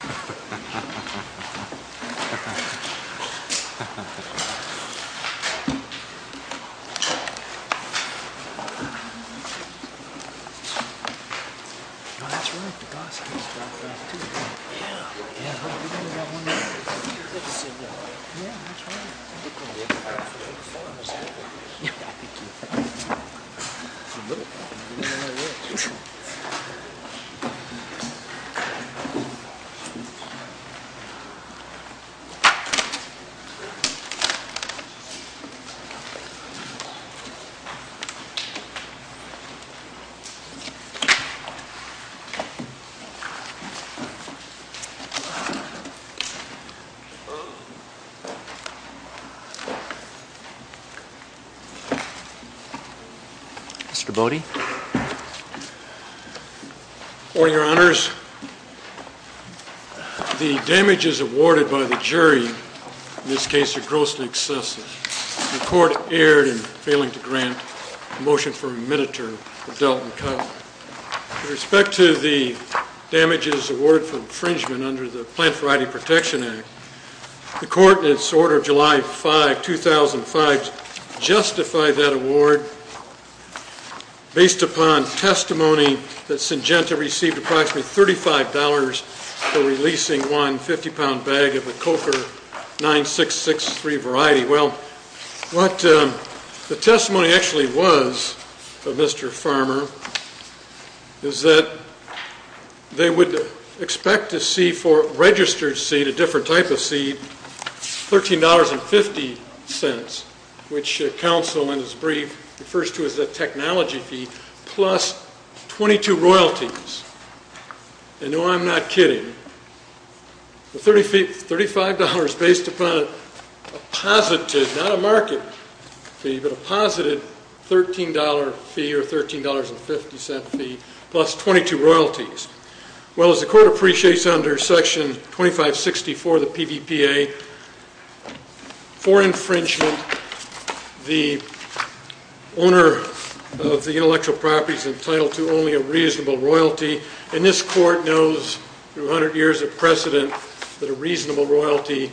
Page 39 Mr. Bode..? Or your honors.... The damages awarded by the jury in this case are grossly excessive. The court erred in failing to grant a motion for a minute term of Delton Cut. With respect to the damages awarded for infringement under the Plant Variety Protection Act, the court in its order of July 5, 2005, justified that award based upon testimony that Syngenta received approximately $35 for releasing one 50-pound bag of the Coker 9663 variety. Well, what the testimony actually was of Mr. Farmer is that they would expect to see for registered seed, a different type of seed, $13.50, which counsel in his brief refers to as a technology fee, plus 22 royalties. And no, I'm not kidding. $35 based upon a positive, not a market fee, but a positive $13 fee or $13.50 fee plus 22 royalties. Well, as the court appreciates under Section 2560 for the PVPA, for infringement, the owner of the intellectual property is entitled to only a reasonable royalty. And this court knows, through 100 years of precedent, that a reasonable royalty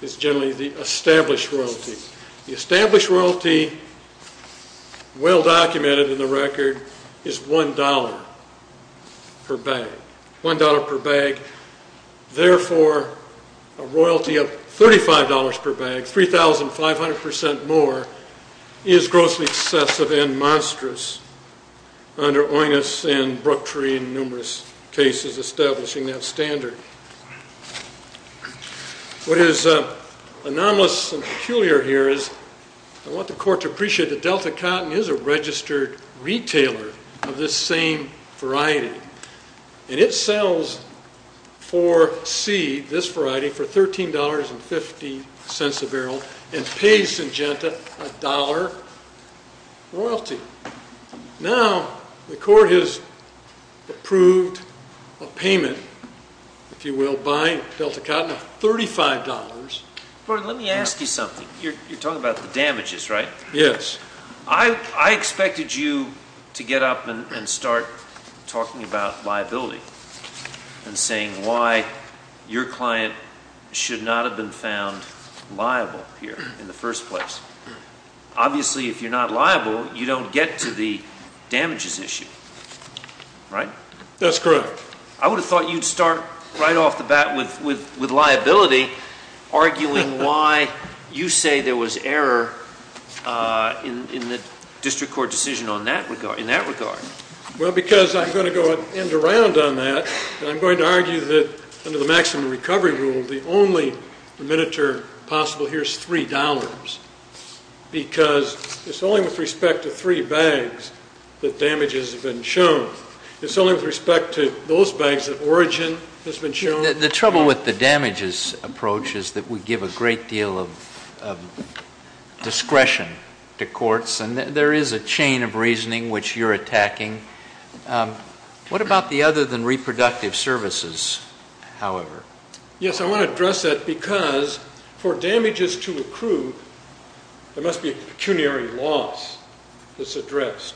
is generally the established royalty. The established royalty, well documented in the record, is $1. Per bag. $1 per bag. Therefore, a royalty of $35 per bag, 3,500% more, is grossly excessive and monstrous under Oinous and Brooktree in numerous cases establishing that standard. What is anomalous and peculiar here is I want the court to appreciate that Delta Cotton is a registered retailer of this same variety, and it sells for seed, this variety, for $13.50 a barrel and pays Syngenta a dollar royalty. Now, the court has approved a payment, if you will, by Delta Cotton of $35. Gordon, let me ask you something. You're talking about the damages, right? Yes. I expected you to get up and start talking about liability and saying why your client should not have been found liable here in the first place. Obviously, if you're not liable, you don't get to the damages issue, right? That's correct. I would have thought you'd start right off the bat with liability, arguing why you say there was error in the district court decision in that regard. Well, because I'm going to end around on that, and I'm going to argue that under the maximum recovery rule, the only miniature possible here is $3, because it's only with respect to three bags that damages have been shown. It's only with respect to those bags that origin has been shown. The trouble with the damages approach is that we give a great deal of discretion to courts, and there is a chain of reasoning which you're attacking. What about the other than reproductive services, however? Yes, I want to address that because for damages to accrue, there must be a pecuniary loss that's addressed.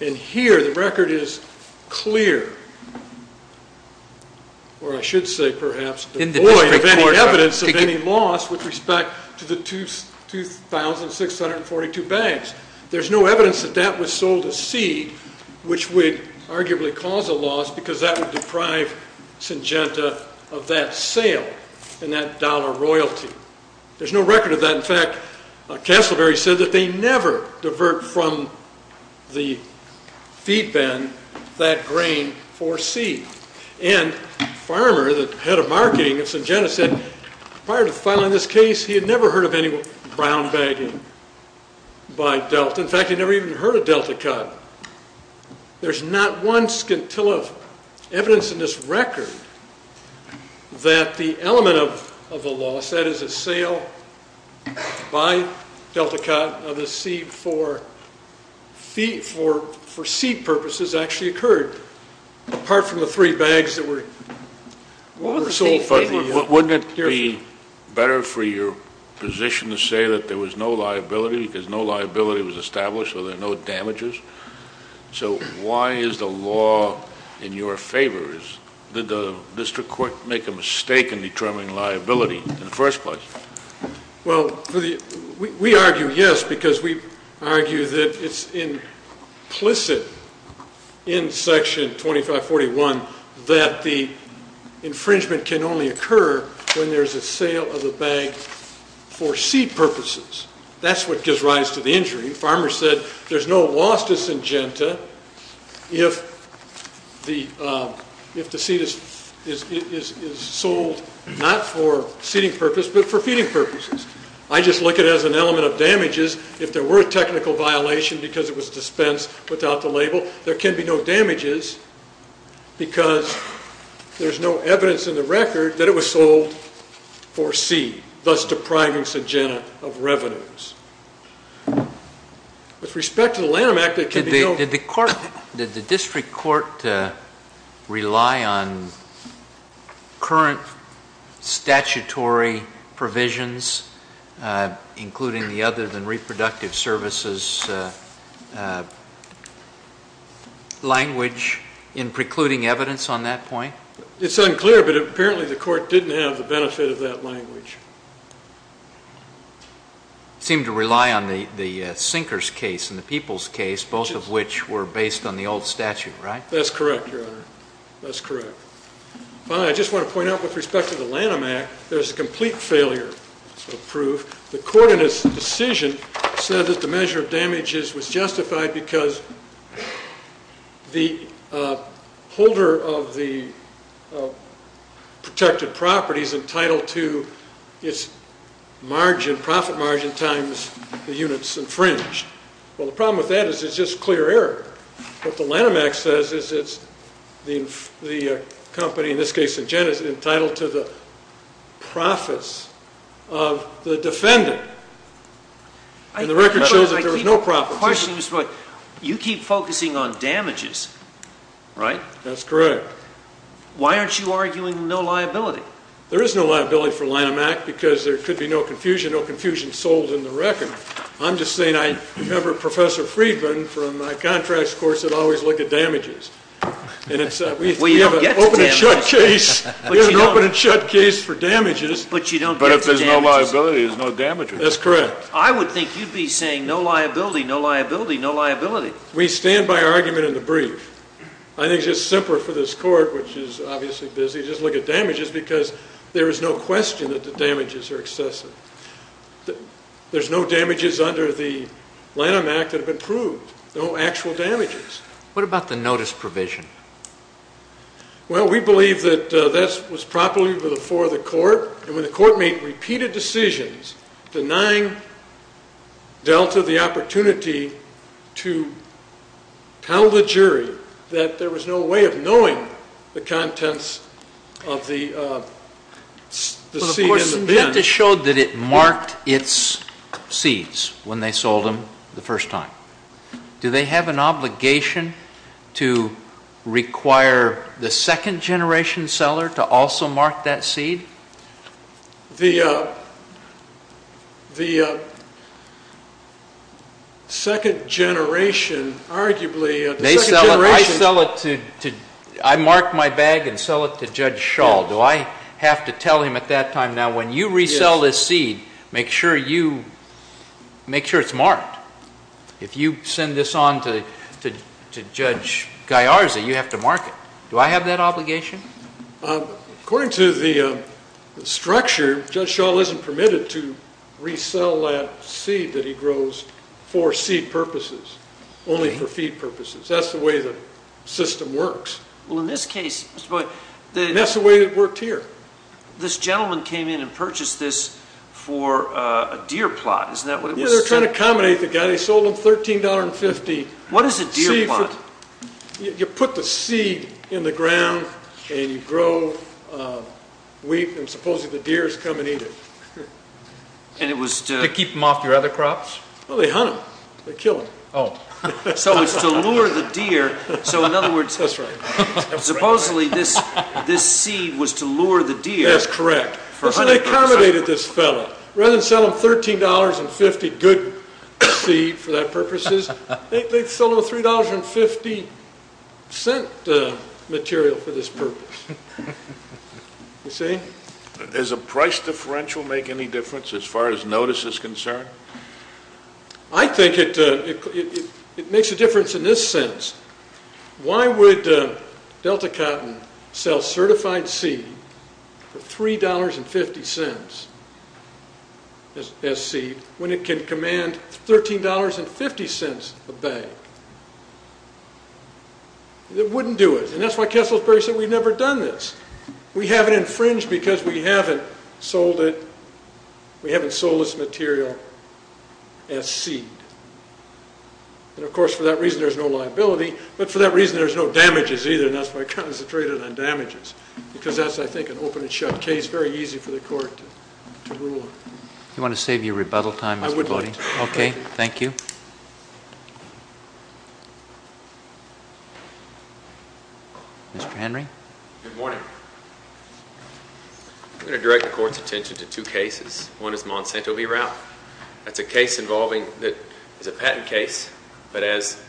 And here the record is clear, or I should say, perhaps, devoid of any evidence of any loss with respect to the 2,642 bags. There's no evidence that that was sold as seed, which would arguably cause a loss, because that would deprive Syngenta of that sale and that dollar royalty. There's no record of that. In fact, Castleberry said that they never divert from the feed bin that grain for seed. And Farmer, the head of marketing at Syngenta, said prior to filing this case, he had never heard of any brown bagging by Delta. In fact, he never even heard of DeltaCut. There's not one scintilla of evidence in this record that the element of a loss, that is a sale by DeltaCut of the seed for seed purposes, actually occurred, apart from the three bags that were sold. Wouldn't it be better for your position to say that there was no liability because no liability was established, so there are no damages? So why is the law in your favor? Did the district court make a mistake in determining liability? Well, we argue yes because we argue that it's implicit in Section 2541 that the infringement can only occur when there's a sale of the bag for seed purposes. That's what gives rise to the injury. Farmer said there's no loss to Syngenta if the seed is sold not for seeding purposes but for feeding purposes. I just look at it as an element of damages. If there were a technical violation because it was dispensed without the label, there can be no damages because there's no evidence in the record that it was sold for seed, thus depriving Syngenta of revenues. With respect to the Lanham Act, there can be no- Did the district court rely on current statutory provisions, including the other than reproductive services language in precluding evidence on that point? It's unclear, but apparently the court didn't have the benefit of that language. It seemed to rely on the Sinkers case and the Peoples case, both of which were based on the old statute, right? That's correct, Your Honor. That's correct. I just want to point out with respect to the Lanham Act, there's a complete failure of proof. The court in its decision said that the measure of damages was justified because the holder of the protected property is entitled to its profit margin times the units infringed. Well, the problem with that is it's just clear error. What the Lanham Act says is the company, in this case Syngenta, is entitled to the profits of the defendant. And the record shows that there was no profit. You keep focusing on damages, right? That's correct. Why aren't you arguing no liability? There is no liability for the Lanham Act because there could be no confusion, no confusion sold in the record. I'm just saying I remember Professor Friedman from my contracts course would always look at damages. We have an open and shut case for damages. But you don't get to damages. No liability is no damages. That's correct. I would think you'd be saying no liability, no liability, no liability. We stand by our argument in the brief. I think it's just simpler for this Court, which is obviously busy, to just look at damages because there is no question that the damages are excessive. There's no damages under the Lanham Act that have been proved, no actual damages. What about the notice provision? Well, we believe that that was properly before the Court. And when the Court made repeated decisions denying Delta the opportunity to tell the jury that there was no way of knowing the contents of the seed in the bin. But, of course, Syngenta showed that it marked its seeds when they sold them the first time. Do they have an obligation to require the second generation seller to also mark that seed? The second generation, arguably. I mark my bag and sell it to Judge Schall. Do I have to tell him at that time, now when you resell this seed, make sure it's marked. If you send this on to Judge Gaiarzi, you have to mark it. Do I have that obligation? According to the structure, Judge Schall isn't permitted to resell that seed that he grows for seed purposes, only for feed purposes. That's the way the system works. Well, in this case, Mr. Boyd. And that's the way it worked here. This gentleman came in and purchased this for a deer plot. They were trying to accommodate the guy. They sold him $13.50. What is a deer plot? You put the seed in the ground, and you grow wheat, and supposedly the deer come and eat it. To keep them off your other crops? Well, they hunt them. They kill them. So it's to lure the deer. That's right. Supposedly this seed was to lure the deer. That's correct. So they accommodated this fellow. Rather than sell him $13.50 good seed for that purpose, they sold him $3.50 material for this purpose. You see? Does a price differential make any difference as far as notice is concerned? I think it makes a difference in this sense. Why would Delta Cotton sell certified seed for $3.50 as seed when it can command $13.50 a bag? It wouldn't do it. And that's why Kesselsberry said we've never done this. We haven't infringed because we haven't sold this material as seed. And, of course, for that reason, there's no liability. But for that reason, there's no damages either, and that's why I concentrated on damages. Because that's, I think, an open and shut case. Very easy for the court to rule on. Do you want to save your rebuttal time? I would like to. Okay. Thank you. Mr. Henry? Good morning. I'm going to direct the court's attention to two cases. One is Monsanto v. Ralph. That's a case involving a patent case. But as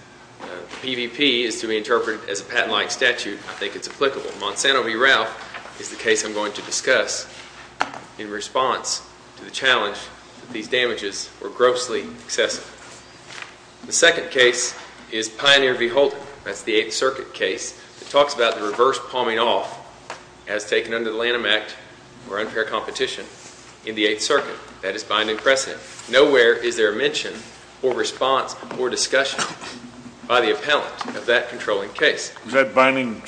PVP is to be interpreted as a patent-like statute, I think it's applicable. Monsanto v. Ralph is the case I'm going to discuss in response to the challenge that these damages were grossly excessive. The second case is Pioneer v. Holden. That's the Eighth Circuit case. It talks about the reverse palming off as taken under the Lanham Act for unfair competition in the Eighth Circuit. That is binding precedent. Nowhere is there a mention or response or discussion by the appellant of that controlling case. Is that binding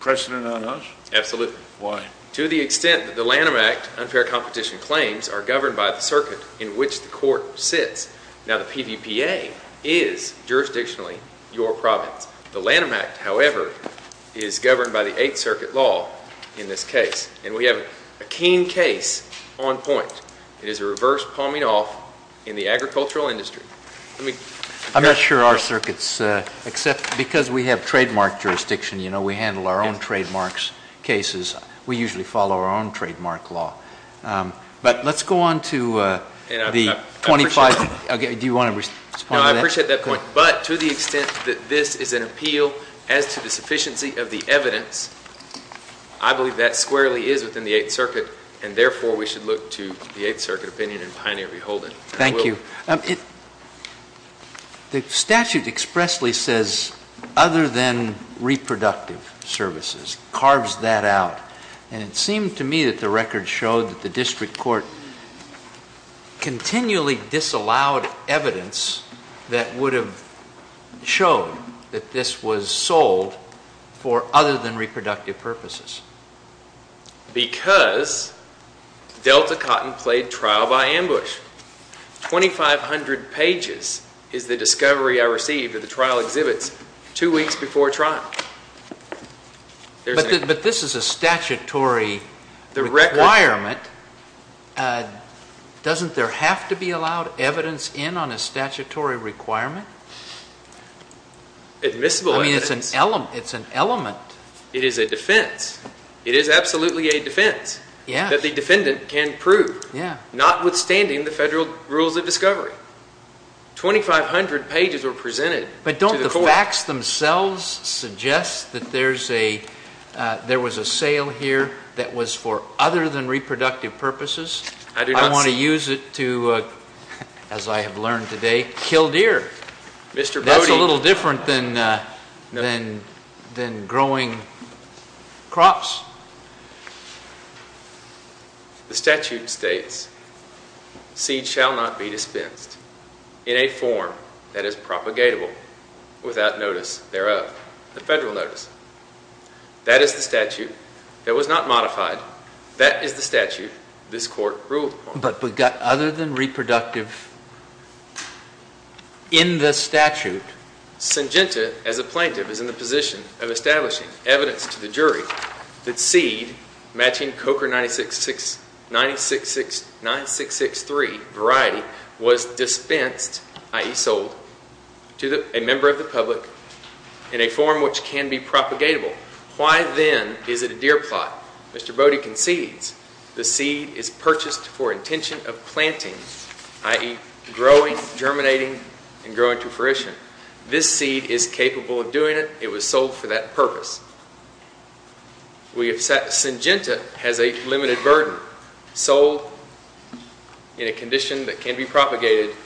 precedent on us? Absolutely. Why? To the extent that the Lanham Act unfair competition claims are governed by the circuit in which the court sits. Now, the PVPA is jurisdictionally your province. The Lanham Act, however, is governed by the Eighth Circuit law in this case. And we have a keen case on point. It is a reverse palming off in the agricultural industry. I'm not sure our circuit's, except because we have trademark jurisdiction, you know, we handle our own trademarks cases. We usually follow our own trademark law. But let's go on to the 25. Do you want to respond to that? No, I appreciate that point. But to the extent that this is an appeal as to the sufficiency of the evidence, I believe that squarely is within the Eighth Circuit. And therefore, we should look to the Eighth Circuit opinion and pioneer beholden. Thank you. The statute expressly says other than reproductive services, carves that out. And it seemed to me that the record showed that the district court continually disallowed evidence that would have shown that this was sold for other than reproductive purposes. Because Delta Cotton played trial by ambush. 2,500 pages is the discovery I received at the trial exhibits two weeks before trial. But this is a statutory requirement. Doesn't there have to be allowed evidence in on a statutory requirement? Admissible evidence. I mean, it's an element. It is a defense. It is absolutely a defense that the defendant can prove, notwithstanding the federal rules of discovery. 2,500 pages were presented to the court. The facts themselves suggest that there was a sale here that was for other than reproductive purposes. I want to use it to, as I have learned today, kill deer. That's a little different than growing crops. The statute states, seed shall not be dispensed in a form that is propagatable without notice thereof. The federal notice. That is the statute that was not modified. That is the statute this court ruled upon. But other than reproductive, in the statute. Syngenta, as a plaintiff, is in the position of establishing evidence to the jury that seed matching Coker 9663 variety was dispensed, i.e. sold, to a member of the public in a form which can be propagatable. Why then is it a deer plot? Mr. Bode concedes the seed is purchased for intention of planting, i.e. growing, germinating, and growing to fruition. This seed is capable of doing it. It was sold for that purpose. Syngenta has a limited burden. Sold in a condition that can be propagated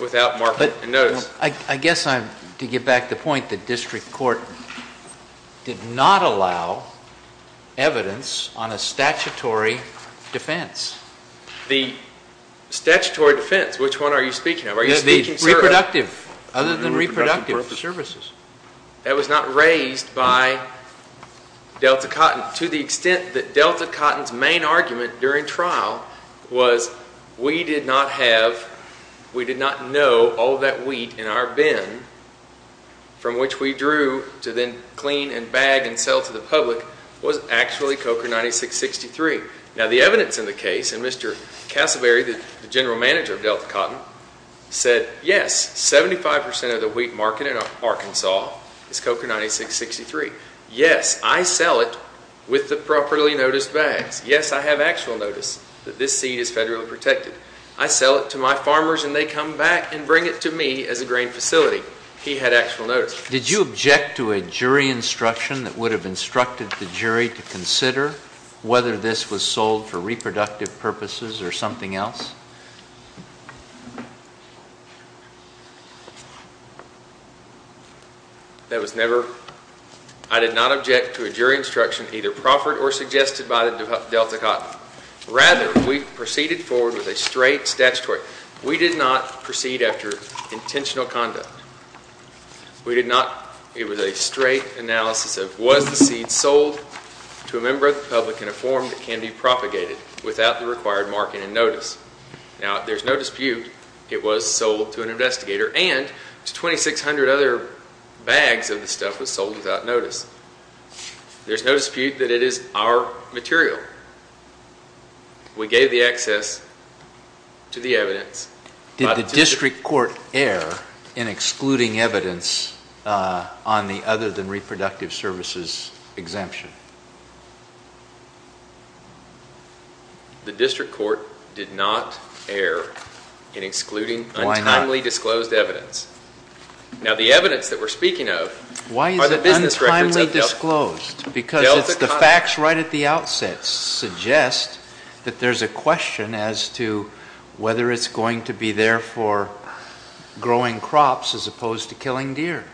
without market notice. I guess to get back to the point, the district court did not allow evidence on a statutory defense. The statutory defense, which one are you speaking of? Reproductive. Other than reproductive services. That was not raised by Delta Cotton to the extent that Delta Cotton's main argument during trial was we did not have, we did not know all that wheat in our bin from which we drew to then clean and bag and sell to the public was actually Coker 9663. Now, the evidence in the case, and Mr. Casselberry, the general manager of Delta Cotton, said yes, 75 percent of the wheat market in Arkansas is Coker 9663. Yes, I sell it with the properly noticed bags. Yes, I have actual notice that this seed is federally protected. I sell it to my farmers and they come back and bring it to me as a grain facility. He had actual notice. Did you object to a jury instruction that would have instructed the jury to consider whether this was sold for reproductive purposes or something else? That was never, I did not object to a jury instruction either proffered or suggested by the Delta Cotton. Rather, we proceeded forward with a straight statutory. We did not proceed after intentional conduct. We did not, it was a straight analysis of was the seed sold to a member of the public in a form that can be propagated without the required marking and notice. Now, there's no dispute it was sold to an investigator and to 2600 other bags of the stuff was sold without notice. There's no dispute that it is our material. We gave the access to the evidence. Did the district court air in excluding evidence on the other than reproductive services exemption? The district court did not air in excluding timely disclosed evidence. Now, the evidence that we're speaking of. Why is it untimely disclosed? Because it's the facts right at the outset suggest that there's a question as to whether it's going to be there for growing crops as opposed to killing deer.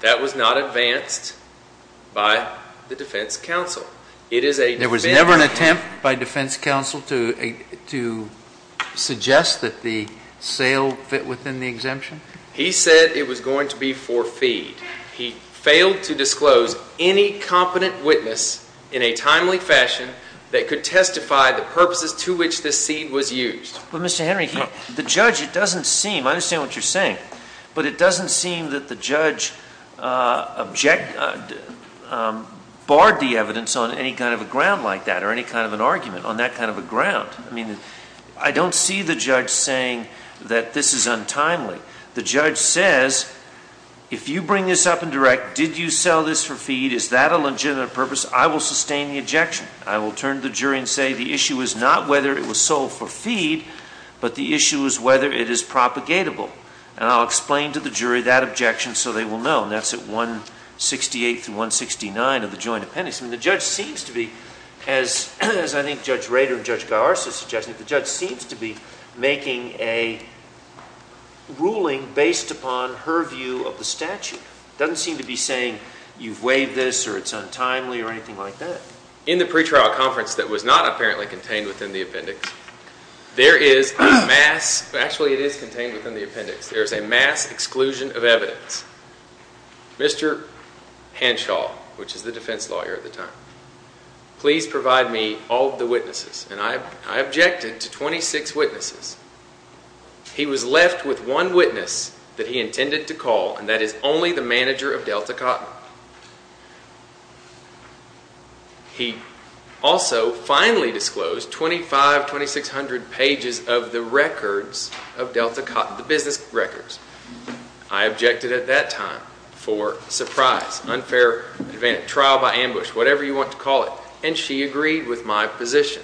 That was not advanced by the defense counsel. It is a... There was never an attempt by defense counsel to suggest that the sale fit within the exemption? He said it was going to be for feed. He failed to disclose any competent witness in a timely fashion that could testify the purposes to which this seed was used. But Mr. Henry, the judge, it doesn't seem... I understand what you're saying, but it doesn't seem that the judge barred the evidence on any kind of a ground like that or any kind of an argument on that kind of a ground. I mean, I don't see the judge saying that this is untimely. The judge says, if you bring this up in direct, did you sell this for feed? Is that a legitimate purpose? I will sustain the objection. I will turn to the jury and say the issue is not whether it was sold for feed, but the issue is whether it is propagatable. And I'll explain to the jury that objection so they will know. And that's at 168 through 169 of the joint appendix. And the judge seems to be, as I think Judge Rader and Judge Garza suggested, the judge seems to be making a ruling based upon her view of the statute. It doesn't seem to be saying you've waived this or it's untimely or anything like that. In the pretrial conference that was not apparently contained within the appendix, there is a mass... Actually, it is contained within the appendix. There is a mass exclusion of evidence. Mr. Hanshaw, which is the defense lawyer at the time, please provide me all of the witnesses. And I objected to 26 witnesses. He was left with one witness that he intended to call, and that is only the manager of Delta Cotton. He also finally disclosed 2,500, 2,600 pages of the records of Delta Cotton, the business records. I objected at that time for surprise, unfair advantage, trial by ambush, whatever you want to call it. And she agreed with my position.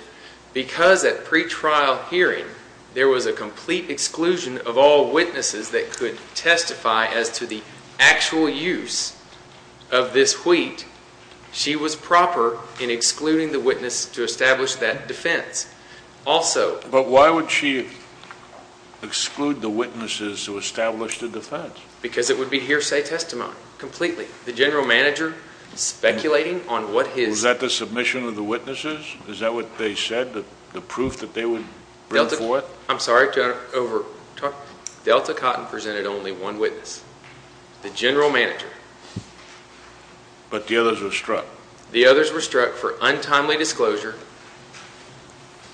Because at pretrial hearing, there was a complete exclusion of all witnesses that could testify as to the actual use of this wheat, she was proper in excluding the witness to establish that defense. But why would she exclude the witnesses to establish the defense? Because it would be hearsay testimony, completely. The general manager speculating on what his... Was that the submission of the witnesses? Is that what they said, the proof that they would... Delta Cotton presented only one witness, the general manager. But the others were struck. The others were struck for untimely disclosure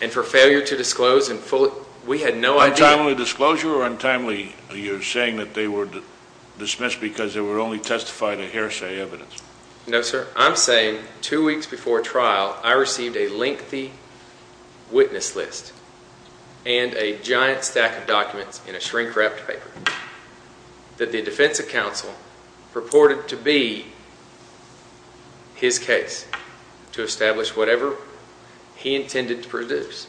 and for failure to disclose in full. We had no idea... Untimely disclosure or untimely... You're saying that they were dismissed because they were only testifying a hearsay evidence. No, sir. I'm saying two weeks before trial, I received a lengthy witness list and a giant stack of documents in a shrink-wrapped paper that the defense counsel purported to be his case to establish whatever he intended to produce.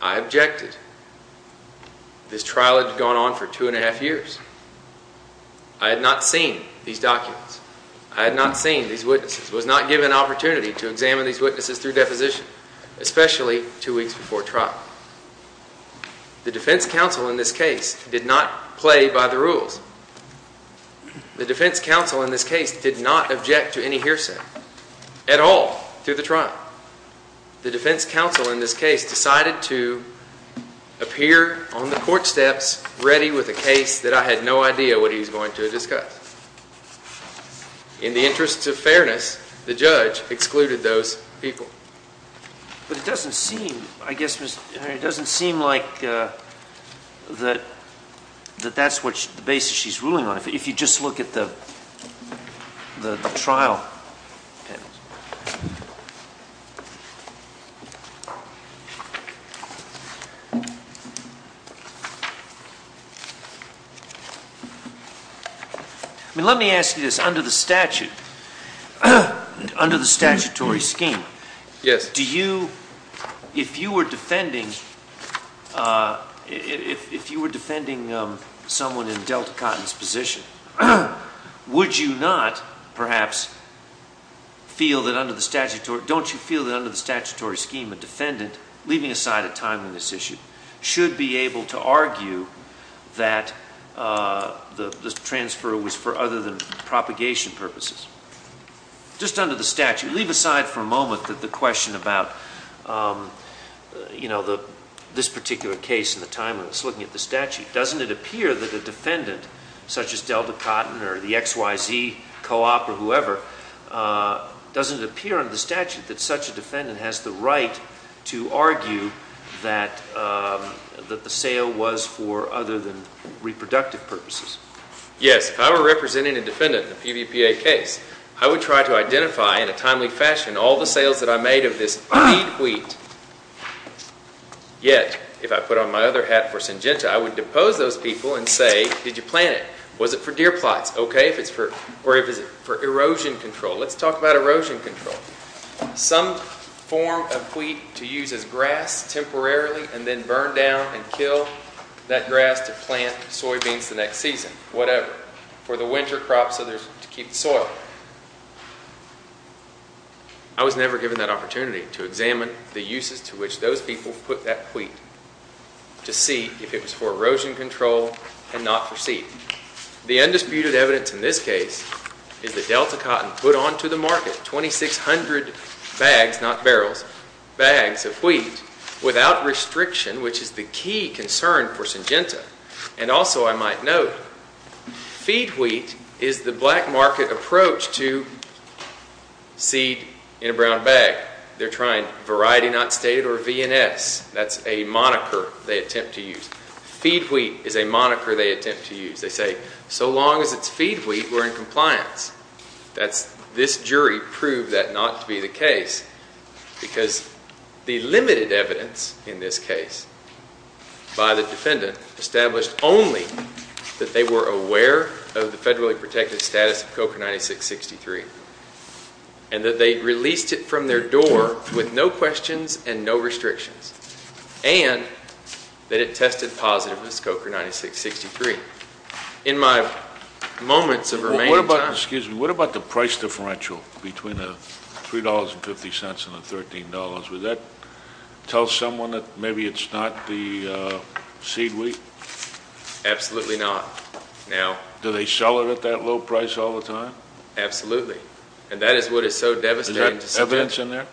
I objected. This trial had gone on for two and a half years. I had not seen these documents. I had not seen these witnesses, was not given an opportunity to examine these witnesses through deposition, especially two weeks before trial. The defense counsel in this case did not play by the rules. The defense counsel in this case did not object to any hearsay at all through the trial. The defense counsel in this case decided to appear on the court steps ready with a case that I had no idea what he was going to discuss. In the interest of fairness, the judge excluded those people. But it doesn't seem, I guess, Mr. Henry, it doesn't seem like that that's the basis she's ruling on, if you just look at the trial. I mean, let me ask you this, under the statute, under the statutory scheme, do you, if you were defending, if you were defending someone in Delta Cotton's position, would you not, perhaps, feel that under the statutory, don't you feel that under the statutory scheme a defendant, leaving aside a timeliness issue, should be able to argue that the transfer was for other than propagation purposes? Just under the statute, leave aside for a moment that the question about, you know, this particular case and the timeliness, looking at the statute. Doesn't it appear that a defendant, such as Delta Cotton or the XYZ Co-op or whoever, doesn't it appear under the statute that such a defendant has the right to argue that the sale was for other than reproductive purposes? Yes. If I were representing a defendant in a PVPA case, I would try to identify in a timely fashion all the sales that I made of this weed wheat. Yet, if I put on my other hat for Syngenta, I would depose those people and say, did you plant it, was it for deer plots, okay, or is it for erosion control? Let's talk about erosion control. Some form of wheat to use as grass temporarily and then burn down and kill that grass to plant soybeans the next season, whatever, for the winter crops to keep the soil. I was never given that opportunity to examine the uses to which those people put that wheat to see if it was for erosion control and not for seed. The undisputed evidence in this case is that Delta Cotton put onto the market 2,600 bags, not barrels, bags of wheat without restriction, which is the key concern for Syngenta. Also, I might note, feed wheat is the black market approach to seed in a brown bag. They're trying variety not stated or VNS. That's a moniker they attempt to use. Feed wheat is a moniker they attempt to use. They say, so long as it's feed wheat, we're in compliance. This jury proved that not to be the case because the limited evidence in this case by the defendant established only that they were aware of the federally protected status of COCA 9663 and that they released it from their door with no questions and no restrictions and that it tested positive as COCA 9663. In my moments of remaining time. What about the price differential between the $3.50 and the $13? Would that tell someone that maybe it's not the seed wheat? Absolutely not. Do they sell it at that low price all the time? Absolutely, and that is what is so devastating to Syngenta. Is that evidence in there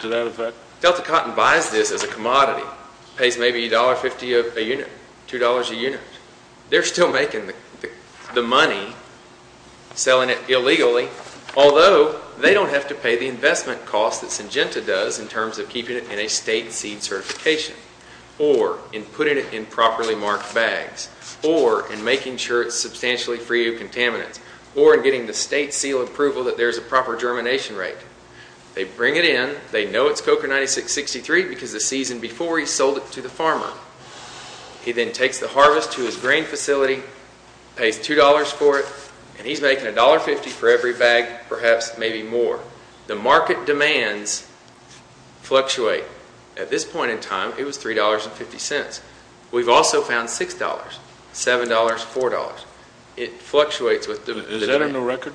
to that effect? Delta Cotton buys this as a commodity, pays maybe $1.50 a unit, $2 a unit. They're still making the money selling it illegally, although they don't have to pay the investment costs that Syngenta does in terms of keeping it in a state seed certification or in putting it in properly marked bags or in making sure it's substantially free of contaminants or in getting the state seal approval that there's a proper germination rate. They bring it in. They know it's COCA 9663 because the season before he sold it to the farmer. He then takes the harvest to his grain facility, pays $2 for it, and he's making $1.50 for every bag, perhaps maybe more. The market demands fluctuate. At this point in time, it was $3.50. We've also found $6, $7, $4. It fluctuates with the demand. Is that in the record?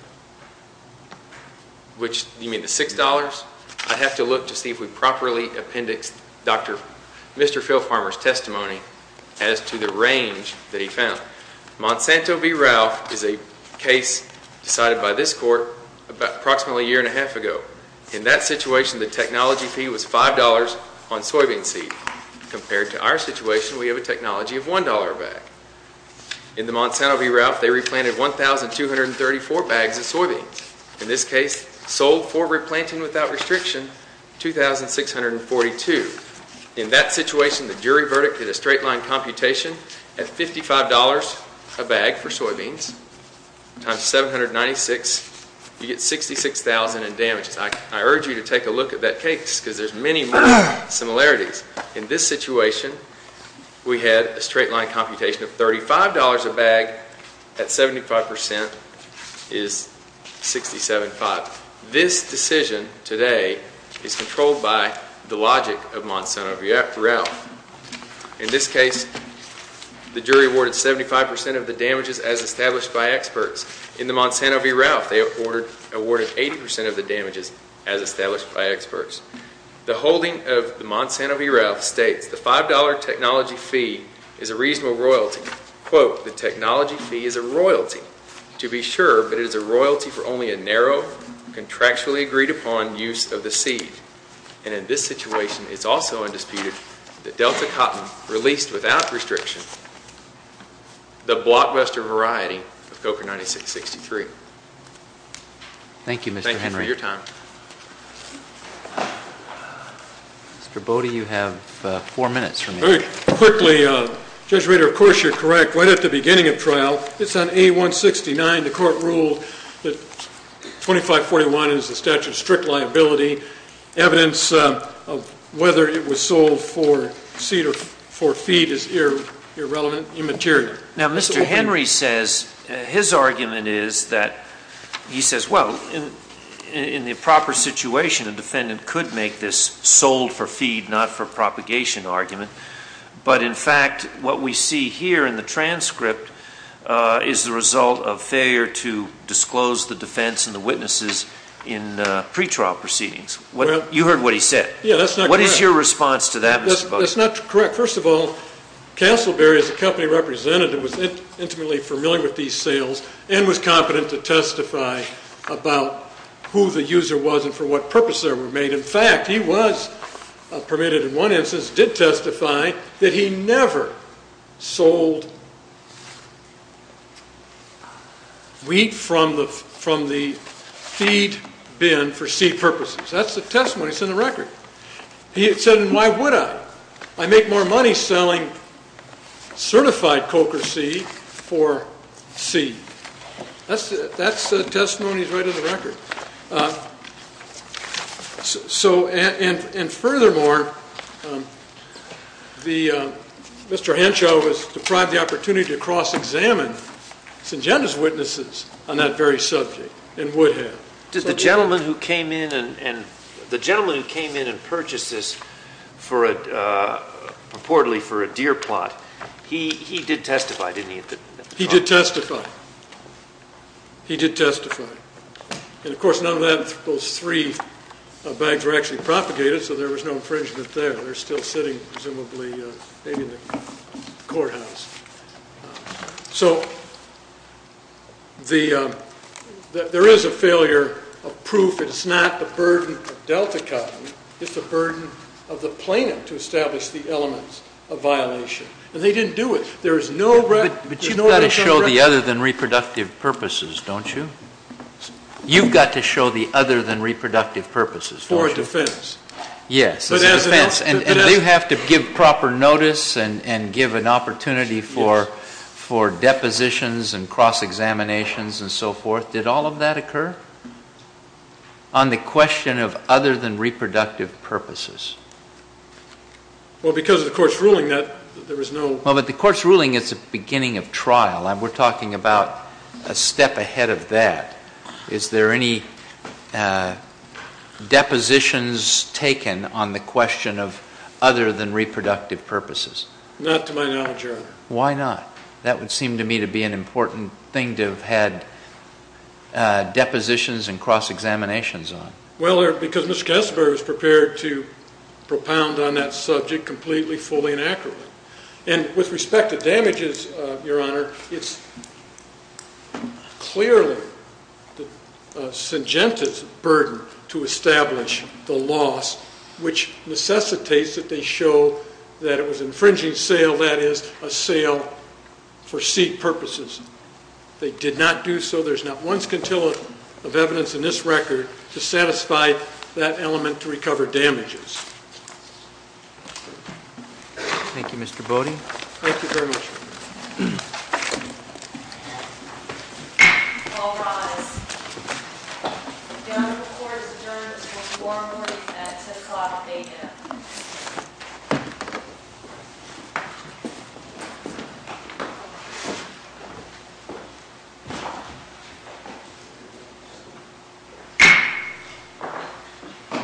You mean the $6? I'd have to look to see if we properly appendix Dr. Phil Farmer's testimony as to the range that he found. Monsanto v. Ralph is a case decided by this court about approximately a year and a half ago. In that situation, the technology fee was $5 on soybean seed. Compared to our situation, we have a technology of $1 a bag. In the Monsanto v. Ralph, they replanted 1,234 bags of soybeans. In this case, sold for replanting without restriction, 2,642. In that situation, the jury verdict did a straight-line computation at $55 a bag for soybeans times 796. You get $66,000 in damages. I urge you to take a look at that case because there's many more similarities. In this situation, we had a straight-line computation of $35 a bag at 75% is $6,75. This decision today is controlled by the logic of Monsanto v. Ralph. In this case, the jury awarded 75% of the damages as established by experts. In the Monsanto v. Ralph, they awarded 80% of the damages as established by experts. The holding of the Monsanto v. Ralph states the $5 technology fee is a reasonable royalty. Quote, the technology fee is a royalty. To be sure, but it is a royalty for only a narrow, contractually agreed-upon use of the seed. And in this situation, it's also undisputed that Delta Cotton released without restriction the Blockbuster variety of Coker 9663. Thank you, Mr. Henry. Thank you for your time. Mr. Bodie, you have four minutes remaining. Very quickly, Judge Rader, of course you're correct. Right at the beginning of trial, it's on A169. The court ruled that 2541 is the statute of strict liability. Evidence of whether it was sold for seed or for feed is irrelevant, immaterial. Now, Mr. Henry says his argument is that he says, well, in the proper situation, a defendant could make this sold for feed, not for propagation argument. But, in fact, what we see here in the transcript is the result of failure to disclose the defense and the witnesses in pretrial proceedings. You heard what he said. Yeah, that's not correct. What is your response to that, Mr. Bodie? That's not correct. First of all, Castleberry, as a company representative, was intimately familiar with these sales and was competent to testify about who the user was and for what purpose they were made. In fact, he was permitted in one instance, did testify that he never sold wheat from the feed bin for seed purposes. That's the testimony that's in the record. He said, and why would I? I make more money selling certified coca seed for seed. That's the testimony that's right in the record. And, furthermore, Mr. Henshaw was deprived the opportunity to cross-examine St. Jenna's witnesses on that very subject in Woodhead. The gentleman who came in and purchased this purportedly for a deer plot, he did testify, didn't he? He did testify. He did testify. And, of course, none of those three bags were actually propagated, so there was no infringement there. They're still sitting, presumably, maybe in the courthouse. So there is a failure of proof. It's not the burden of Delta Company. It's the burden of the plaintiff to establish the elements of violation. And they didn't do it. There is no record of that. But you've got to show the other than reproductive purposes, don't you? You've got to show the other than reproductive purposes, don't you? For a defense. Yes, it's a defense. And do you have to give proper notice and give an opportunity for depositions and cross-examinations and so forth? Did all of that occur? On the question of other than reproductive purposes. Well, because of the court's ruling, there was no... Well, but the court's ruling is the beginning of trial. We're talking about a step ahead of that. Is there any depositions taken on the question of other than reproductive purposes? Not to my knowledge, Your Honor. Why not? That would seem to me to be an important thing to have had depositions and cross-examinations on. Well, because Ms. Kessler was prepared to propound on that subject completely, fully, and accurately. And with respect to damages, Your Honor, it's clearly a singentive burden to establish the loss, which necessitates that they show that it was an infringing sale, that is, a sale for C purposes. They did not do so. There's not one scintilla of evidence in this record to satisfy that element to recover damages. Thank you, Mr. Bode. Thank you very much, Your Honor. All rise. The honorable court is adjourned until tomorrow morning at 10 o'clock a.m.